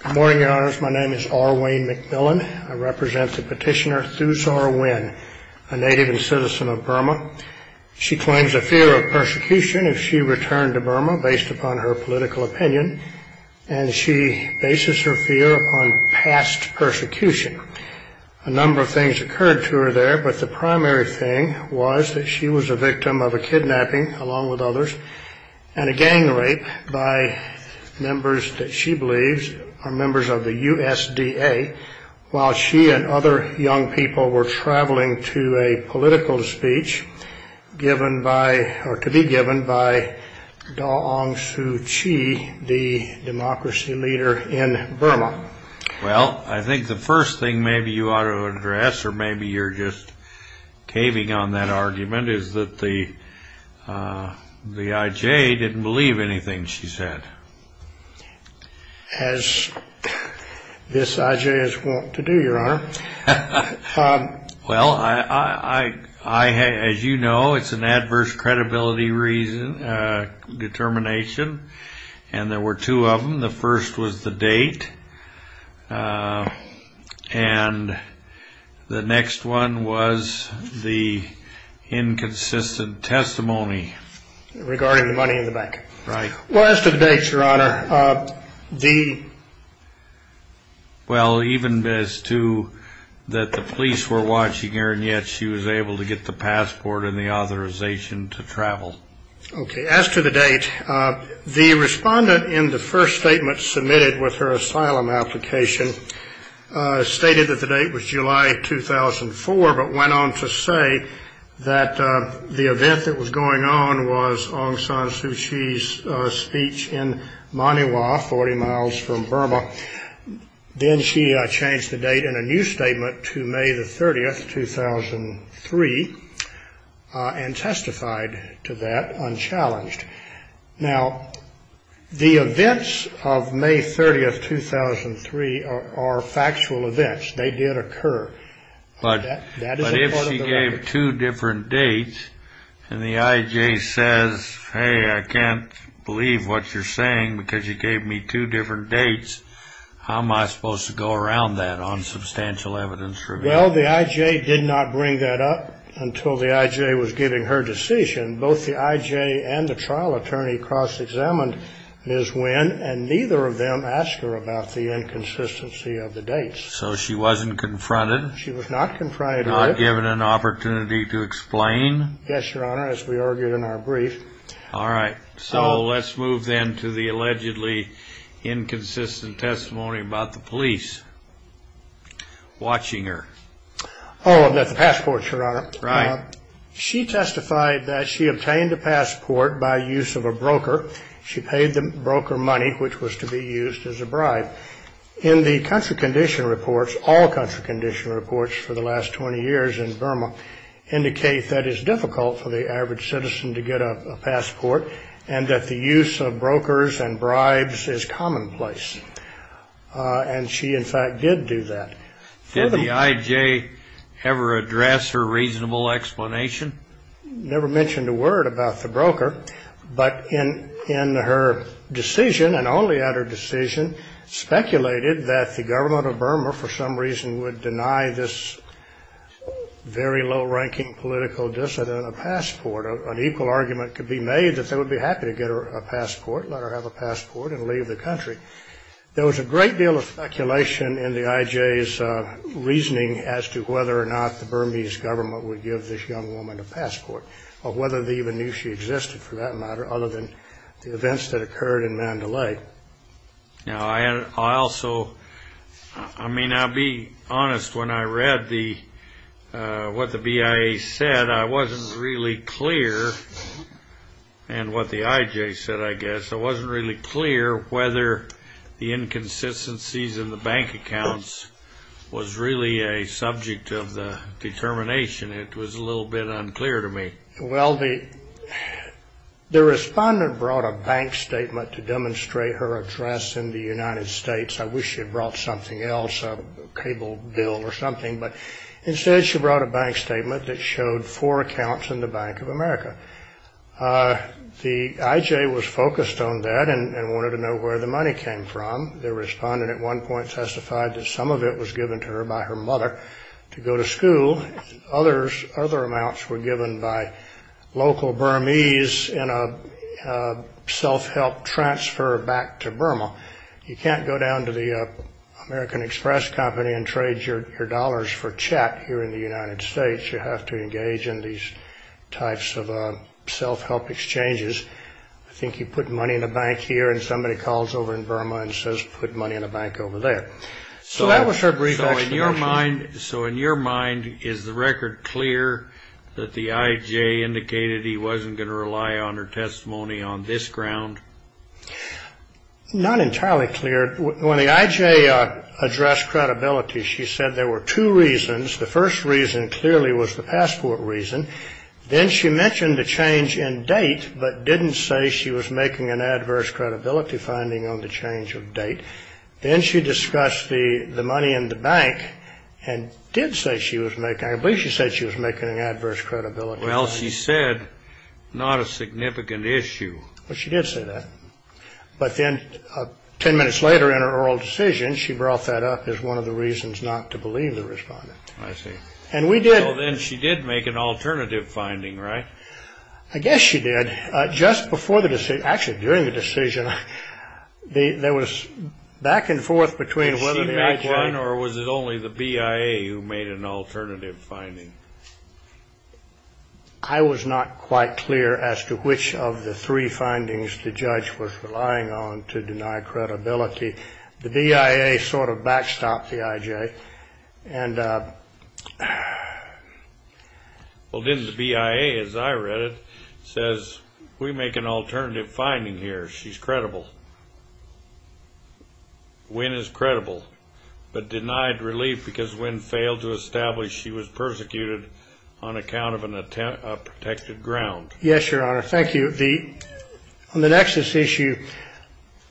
Good morning, Your Honors. My name is R. Wayne McMillan. I represent the petitioner Thu Sor Win, a native and citizen of Burma. She claims a fear of persecution if she returned to Burma, based upon her political opinion, and she bases her fear on past persecution. A number of things occurred to her there, but the primary thing was that she was a victim of a kidnapping, along with others, and a gang rape by members that she believes are members of the USDA, while she and other young people were traveling to a political speech to be given by Daw Aung Suu Kyi, the democracy leader in Burma. Well, I think the first thing maybe you ought to address, or maybe you're just caving on that argument, is that the IJ didn't believe anything she said. As this IJ is wont to do, Your Honor. Well, as you know, it's an adverse credibility determination, and there were two of them. The first was the date, and the next one was the inconsistent testimony regarding the money in the bank. Well, as to the date, Your Honor, the Well, even as to that the police were watching her, and yet she was able to get the passport and the authorization to travel. Okay, as to the date, the respondent in the first statement submitted with her asylum application stated that the date was July 2004, but went on to say that the event that was going on was Aung San Suu Kyi's speech in Maniwa, 40 miles from Burma. Then she changed the date in a new statement to May the 30th, 2003, and testified to that unchallenged. Now, the events of May 30th, 2003 are factual events. They did occur. But if she gave two different dates and the IJ says, hey, I can't believe what you're saying because you gave me two different dates, how am I supposed to go around that on substantial evidence? Well, the IJ did not bring that up until the IJ was giving her decision. Both the IJ and the trial attorney cross-examined Ms. Nguyen, and neither of them asked her about the inconsistency of the dates. So she wasn't confronted? She was not confronted with it. Not given an opportunity to explain? Yes, Your Honor, as we argued in our brief. All right. So let's move then to the allegedly inconsistent testimony about the police watching her. Oh, about the passport, Your Honor. Right. She testified that she obtained a passport by use of a broker. She paid the broker money, which was to be used as a bribe. In the country condition reports, all country condition reports for the last 20 years in Burma, indicate that it's difficult for the average citizen to get a passport and that the use of brokers and bribes is commonplace. And she, in fact, did do that. Did the IJ ever address her reasonable explanation? Never mentioned a word about the broker. But in her decision, and only at her decision, speculated that the government of Burma for some reason would deny this very low-ranking political dissident a passport. An equal argument could be made that they would be happy to get her a passport, let her have a passport, and leave the country. There was a great deal of speculation in the IJ's reasoning as to whether or not the Burmese government would give this young woman a passport, or whether they even knew she existed, for that matter, other than the events that occurred in Mandalay. Now, I also, I mean, I'll be honest. When I read what the BIA said, I wasn't really clear, and what the IJ said, I guess. I wasn't really clear whether the inconsistencies in the bank accounts was really a subject of the determination. It was a little bit unclear to me. Well, the respondent brought a bank statement to demonstrate her address in the United States. I wish she had brought something else, a cable bill or something. But instead, she brought a bank statement that showed four accounts in the Bank of America. The IJ was focused on that and wanted to know where the money came from. The respondent at one point testified that some of it was given to her by her mother to go to school. Other amounts were given by local Burmese in a self-help transfer back to Burma. You can't go down to the American Express company and trade your dollars for check here in the United States. You have to engage in these types of self-help exchanges. I think you put money in a bank here and somebody calls over in Burma and says put money in a bank over there. So that was her brief explanation. So in your mind, is the record clear that the IJ indicated he wasn't going to rely on her testimony on this ground? Not entirely clear. When the IJ addressed credibility, she said there were two reasons. The first reason clearly was the passport reason. Then she mentioned the change in date but didn't say she was making an adverse credibility finding on the change of date. Then she discussed the money in the bank and did say she was making, I believe she said she was making an adverse credibility finding. Well, she said not a significant issue. Well, she did say that. But then ten minutes later in her oral decision, she brought that up as one of the reasons not to believe the respondent. I see. And we did. Well, then she did make an alternative finding, right? I guess she did. Just before the decision, actually during the decision, there was back and forth between whether the IJ. Was she back then or was it only the BIA who made an alternative finding? I was not quite clear as to which of the three findings the judge was relying on to deny credibility. The BIA sort of backstopped the IJ. Well, then the BIA, as I read it, says we make an alternative finding here. She's credible. Wynne is credible, but denied relief because Wynne failed to establish she was persecuted on account of a protected ground. Yes, Your Honor. Thank you. On the nexus issue,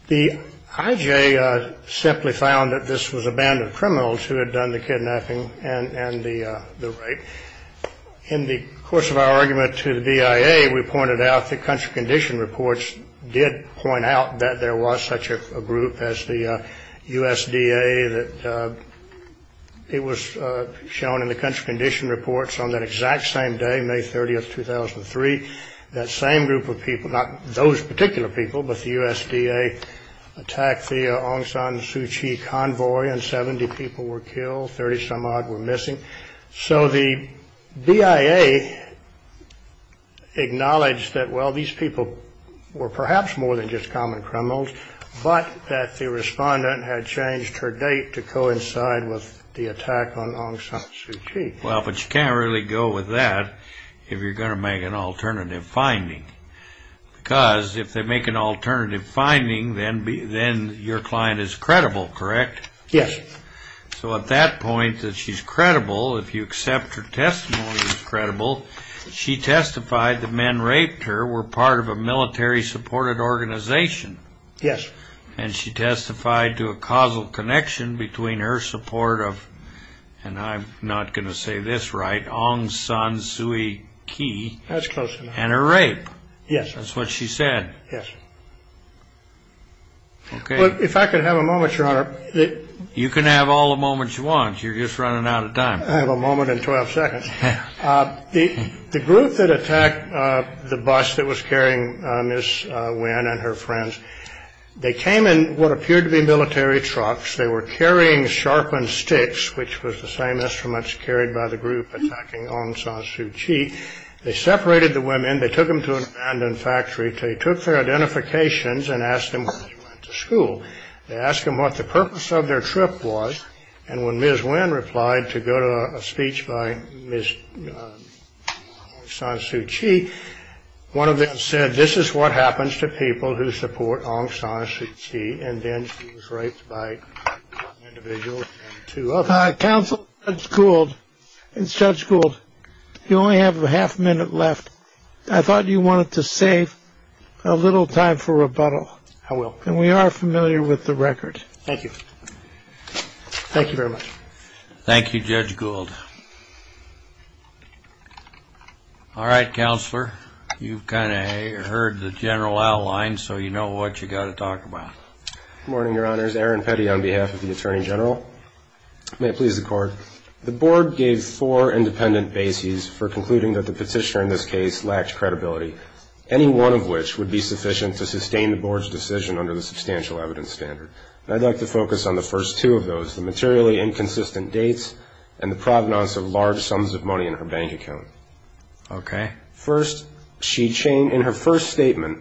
the IJ simply found that this was a band of criminals who had done the kidnapping and the rape. In the course of our argument to the BIA, we pointed out the country condition reports did point out that there was such a group as the USDA. It was shown in the country condition reports on that exact same day, May 30th, 2003. That same group of people, not those particular people, but the USDA, attacked the Aung San Suu Kyi convoy and 70 people were killed, 30 some odd were missing. So the BIA acknowledged that, well, these people were perhaps more than just common criminals, but that the respondent had changed her date to coincide with the attack on Aung San Suu Kyi. Well, but you can't really go with that if you're going to make an alternative finding. Because if they make an alternative finding, then your client is credible, correct? Yes. So at that point that she's credible, if you accept her testimony as credible, she testified that men raped her were part of a military supported organization. Yes. And she testified to a causal connection between her support of, and I'm not going to say this right, Aung San Suu Kyi. That's close enough. And her rape. Yes. That's what she said. Yes. Okay. Well, if I could have a moment, Your Honor. You can have all the moments you want. You're just running out of time. I have a moment and 12 seconds. The group that attacked the bus that was carrying Ms. Nguyen and her friends, they came in what appeared to be military trucks. They were carrying sharpened sticks, which was the same instruments carried by the group attacking Aung San Suu Kyi. They separated the women. They took them to an abandoned factory. They took their identifications and asked them if they went to school. They asked them what the purpose of their trip was. And when Ms. Nguyen replied to go to a speech by Ms. Aung San Suu Kyi, one of them said, this is what happens to people who support Aung San Suu Kyi. And then she was raped by an individual and two others. Counsel, it's Judge Gould. It's Judge Gould. You only have a half minute left. I thought you wanted to save a little time for rebuttal. I will. And we are familiar with the record. Thank you. Thank you very much. Thank you, Judge Gould. All right, Counselor. You've kind of heard the general outline, so you know what you've got to talk about. Good morning, Your Honors. Aaron Petty on behalf of the Attorney General. May it please the Court. The Board gave four independent bases for concluding that the petitioner in this case lacked credibility, any one of which would be sufficient to sustain the Board's decision under the substantial evidence standard. And I'd like to focus on the first two of those, the materially inconsistent dates and the provenance of large sums of money in her bank account. Okay. First, in her first statement,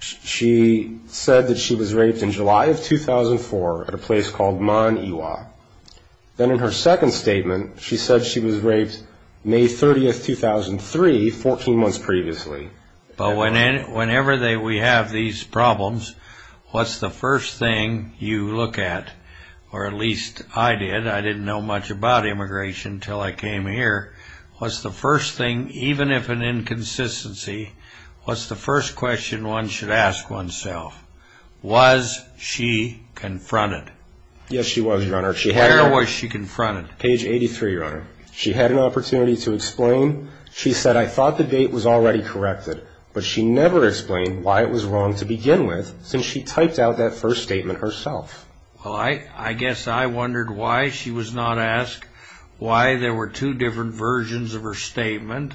she said that she was raped in July of 2004 at a place called Man Iwa. Then in her second statement, she said she was raped May 30, 2003, 14 months previously. But whenever we have these problems, what's the first thing you look at? Or at least I did. I didn't know much about immigration until I came here. What's the first thing, even if an inconsistency, what's the first question one should ask oneself? Was she confronted? Yes, she was, Your Honor. Where was she confronted? Page 83, Your Honor. She had an opportunity to explain. She said, I thought the date was already corrected, but she never explained why it was wrong to begin with since she typed out that first statement herself. Well, I guess I wondered why she was not asked why there were two different versions of her statement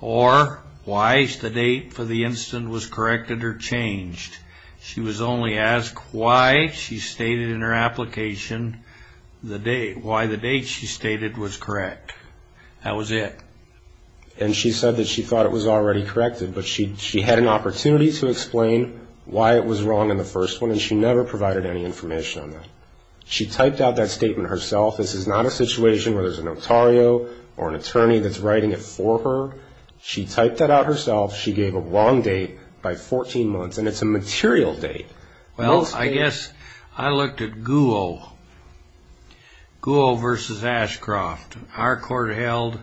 or why the date for the incident was corrected or changed. She was only asked why she stated in her application why the date she stated was correct. That was it. And she said that she thought it was already corrected, but she had an opportunity to explain why it was wrong in the first one, and she never provided any information on that. She typed out that statement herself. This is not a situation where there's a notario or an attorney that's writing it for her. She typed that out herself. She gave a long date by 14 months, and it's a material date. Well, I guess I looked at Guo versus Ashcroft. Our court held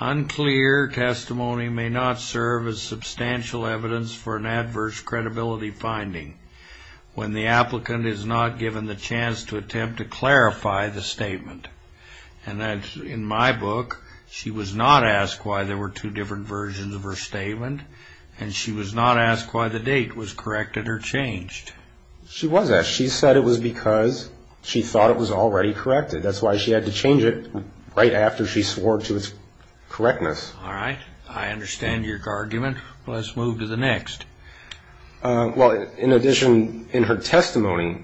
unclear testimony may not serve as substantial evidence for an adverse credibility finding when the applicant is not given the chance to attempt to clarify the statement. And that's in my book. She was not asked why there were two different versions of her statement, and she was not asked why the date was corrected or changed. She was asked. She said it was because she thought it was already corrected. That's why she had to change it right after she swore to its correctness. All right. I understand your argument. Let's move to the next. Well, in addition, in her testimony,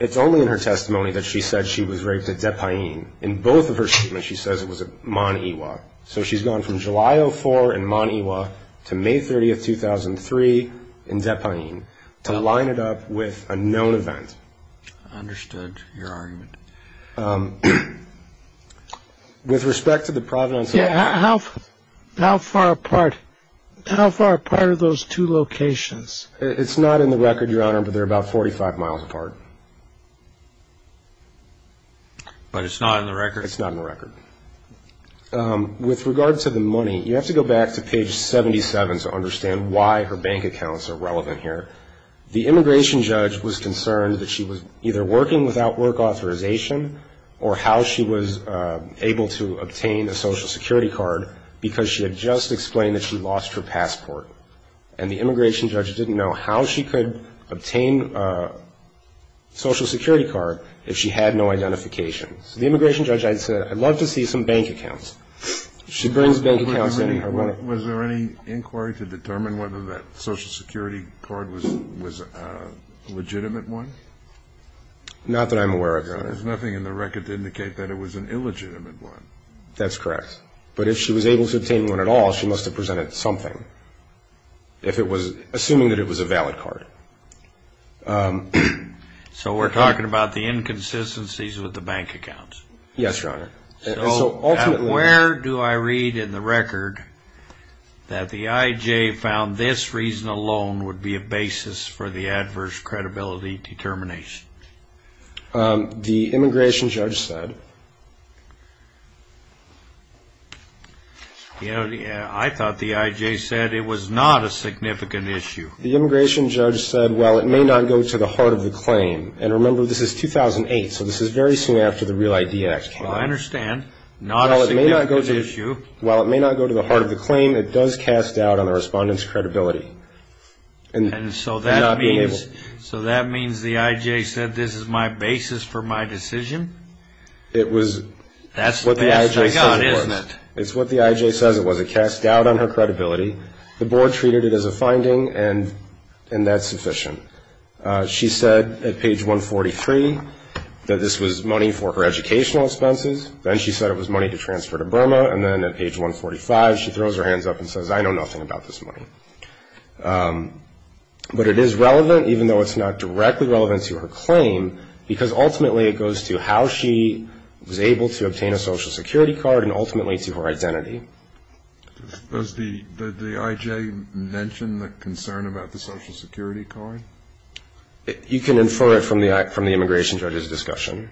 it's only in her testimony that she said she was raped at Depayin. In both of her statements, she says it was at Maniwa. So she's gone from July 04 in Maniwa to May 30, 2003 in Depayin to line it up with a known event. I understood your argument. With respect to the Providence Hotel. Yeah, how far apart are those two locations? It's not in the record, Your Honor, but they're about 45 miles apart. But it's not in the record? It's not in the record. With regard to the money, you have to go back to page 77 to understand why her bank accounts are relevant here. The immigration judge was concerned that she was either working without work authorization or how she was able to obtain a Social Security card because she had just explained that she lost her passport. And the immigration judge didn't know how she could obtain a Social Security card if she had no identification. So the immigration judge, I said, I'd love to see some bank accounts. She brings bank accounts in. Was there any inquiry to determine whether that Social Security card was a legitimate one? Not that I'm aware of, Your Honor. There's nothing in the record to indicate that it was an illegitimate one. That's correct. But if she was able to obtain one at all, she must have presented something, assuming that it was a valid card. So we're talking about the inconsistencies with the bank accounts? Yes, Your Honor. So where do I read in the record that the IJ found this reason alone would be a basis for the adverse credibility determination? The immigration judge said. I thought the IJ said it was not a significant issue. The immigration judge said, well, it may not go to the heart of the claim. And remember, this is 2008, so this is very soon after the Real ID Act came out. Well, I understand. Not a significant issue. While it may not go to the heart of the claim, it does cast doubt on the respondent's credibility. And so that means the IJ said this is my basis for my decision? It was what the IJ says it was. That's the best I got, isn't it? It's what the IJ says it was. It cast doubt on her credibility. The board treated it as a finding, and that's sufficient. She said at page 143 that this was money for her educational expenses. Then she said it was money to transfer to Burma. And then at page 145, she throws her hands up and says, I know nothing about this money. But it is relevant, even though it's not directly relevant to her claim, because ultimately it goes to how she was able to obtain a Social Security card and ultimately to her identity. Does the IJ mention the concern about the Social Security card? You can infer it from the immigration judge's discussion.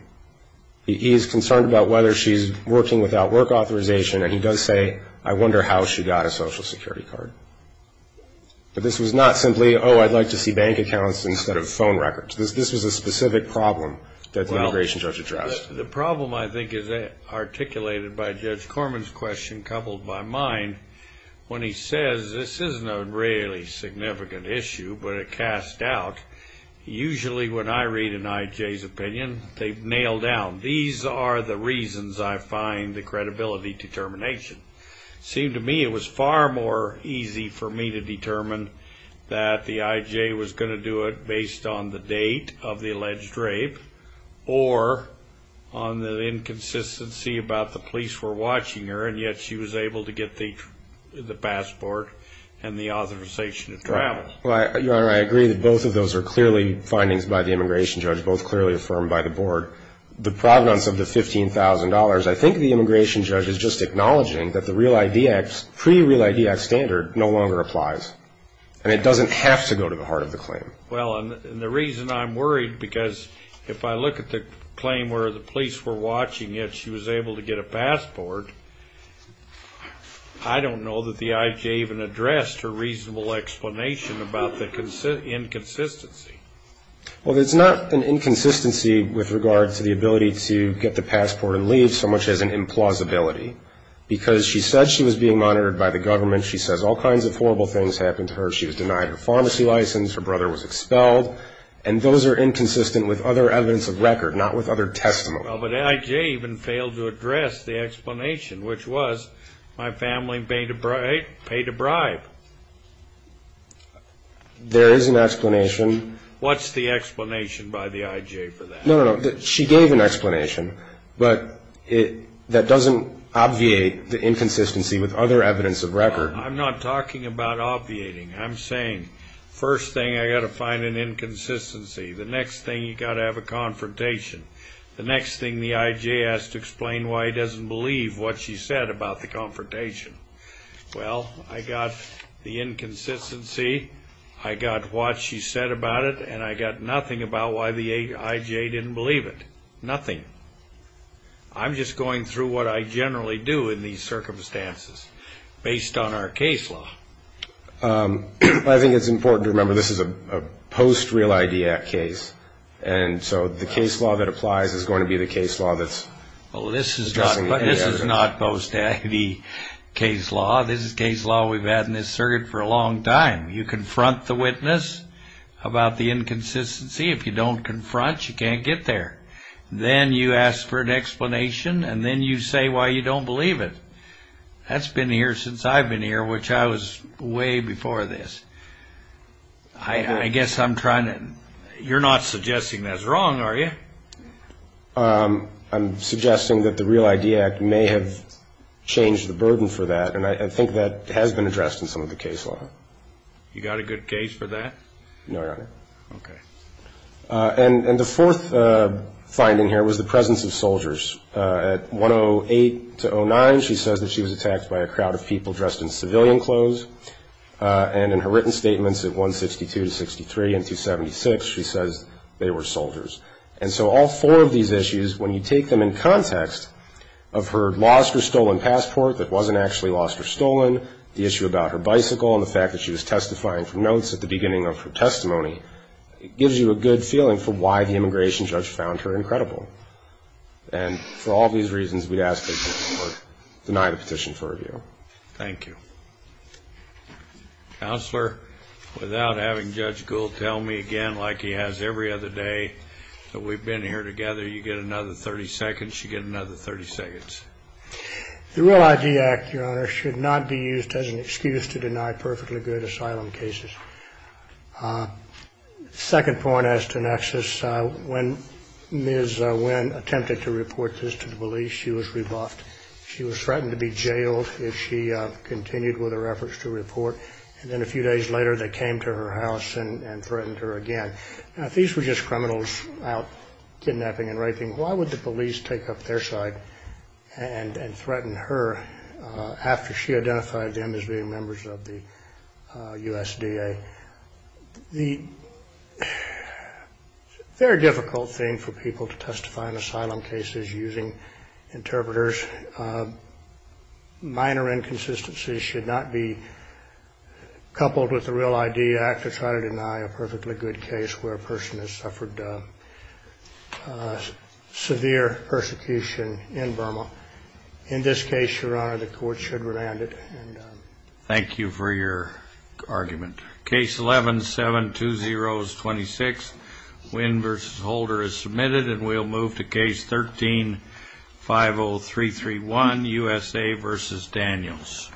He is concerned about whether she's working without work authorization, and he does say, I wonder how she got a Social Security card. But this was not simply, oh, I'd like to see bank accounts instead of phone records. This was a specific problem that the immigration judge addressed. The problem, I think, is articulated by Judge Corman's question, coupled by mine, when he says this isn't a really significant issue, but it casts doubt. Usually when I read an IJ's opinion, they've nailed down, these are the reasons I find the credibility determination. It seemed to me it was far more easy for me to determine that the IJ was going to do it based on the date of the alleged rape or on the inconsistency about the police were watching her, and yet she was able to get the passport and the authorization to travel. Well, Your Honor, I agree that both of those are clearly findings by the immigration judge, both clearly affirmed by the board. The provenance of the $15,000, I think the immigration judge is just acknowledging that the Real ID Act, pre-Real ID Act standard, no longer applies, and it doesn't have to go to the heart of the claim. Well, and the reason I'm worried, because if I look at the claim where the police were watching, yet she was able to get a passport, I don't know that the IJ even addressed her reasonable explanation about the inconsistency. Well, it's not an inconsistency with regard to the ability to get the passport and leave, so much as an implausibility, because she said she was being monitored by the government, she says all kinds of horrible things happened to her, she was denied her pharmacy license, her brother was expelled, and those are inconsistent with other evidence of record, not with other testimony. Well, but the IJ even failed to address the explanation, which was, my family paid a bribe. There is an explanation. What's the explanation by the IJ for that? No, no, no, she gave an explanation, but that doesn't obviate the inconsistency with other evidence of record. I'm not talking about obviating, I'm saying, first thing, I've got to find an inconsistency, the next thing, you've got to have a confrontation, the next thing, the IJ has to explain why he doesn't believe what she said about the confrontation. Well, I got the inconsistency, I got what she said about it, and I got nothing about why the IJ didn't believe it, nothing. I'm just going through what I generally do in these circumstances, based on our case law. I think it's important to remember this is a post-Real ID Act case, and so the case law that applies is going to be the case law that's addressing the evidence. Well, this is not post-ID case law. This is case law we've had in this circuit for a long time. You confront the witness about the inconsistency. If you don't confront, you can't get there. Then you ask for an explanation, and then you say why you don't believe it. That's been here since I've been here, which I was way before this. I guess I'm trying to – you're not suggesting that's wrong, are you? I'm suggesting that the Real ID Act may have changed the burden for that, and I think that has been addressed in some of the case law. You got a good case for that? No, Your Honor. Okay. And the fourth finding here was the presence of soldiers. At 108-09, she says that she was attacked by a crowd of people dressed in civilian clothes, and in her written statements at 162-63 and 276, she says they were soldiers. And so all four of these issues, when you take them in context of her lost or stolen passport that wasn't actually lost or stolen, the issue about her bicycle, and the fact that she was testifying for notes at the beginning of her testimony, it gives you a good feeling for why the immigration judge found her incredible. And for all these reasons, we'd ask that you would deny the petition for review. Thank you. Counselor, without having Judge Gould tell me again like he has every other day that we've been here together, you get another 30 seconds, you get another 30 seconds. The Real ID Act, Your Honor, should not be used as an excuse to deny perfectly good asylum cases. Second point as to Nexus, when Ms. Wynn attempted to report this to the police, she was rebuffed. She was threatened to be jailed if she continued with her efforts to report. And then a few days later, they came to her house and threatened her again. Now, if these were just criminals out kidnapping and raping, why would the police take up their side and threaten her after she identified them as being members of the USDA? The very difficult thing for people to testify in asylum cases using interpreters, minor inconsistencies should not be coupled with the Real ID Act to try to deny a perfectly good case where a person has suffered severe persecution in Burma. In this case, Your Honor, the court should remand it. Thank you for your argument. Case 11-72026, Wynn v. Holder is submitted, and we'll move to Case 13-50331, USA v. Daniels.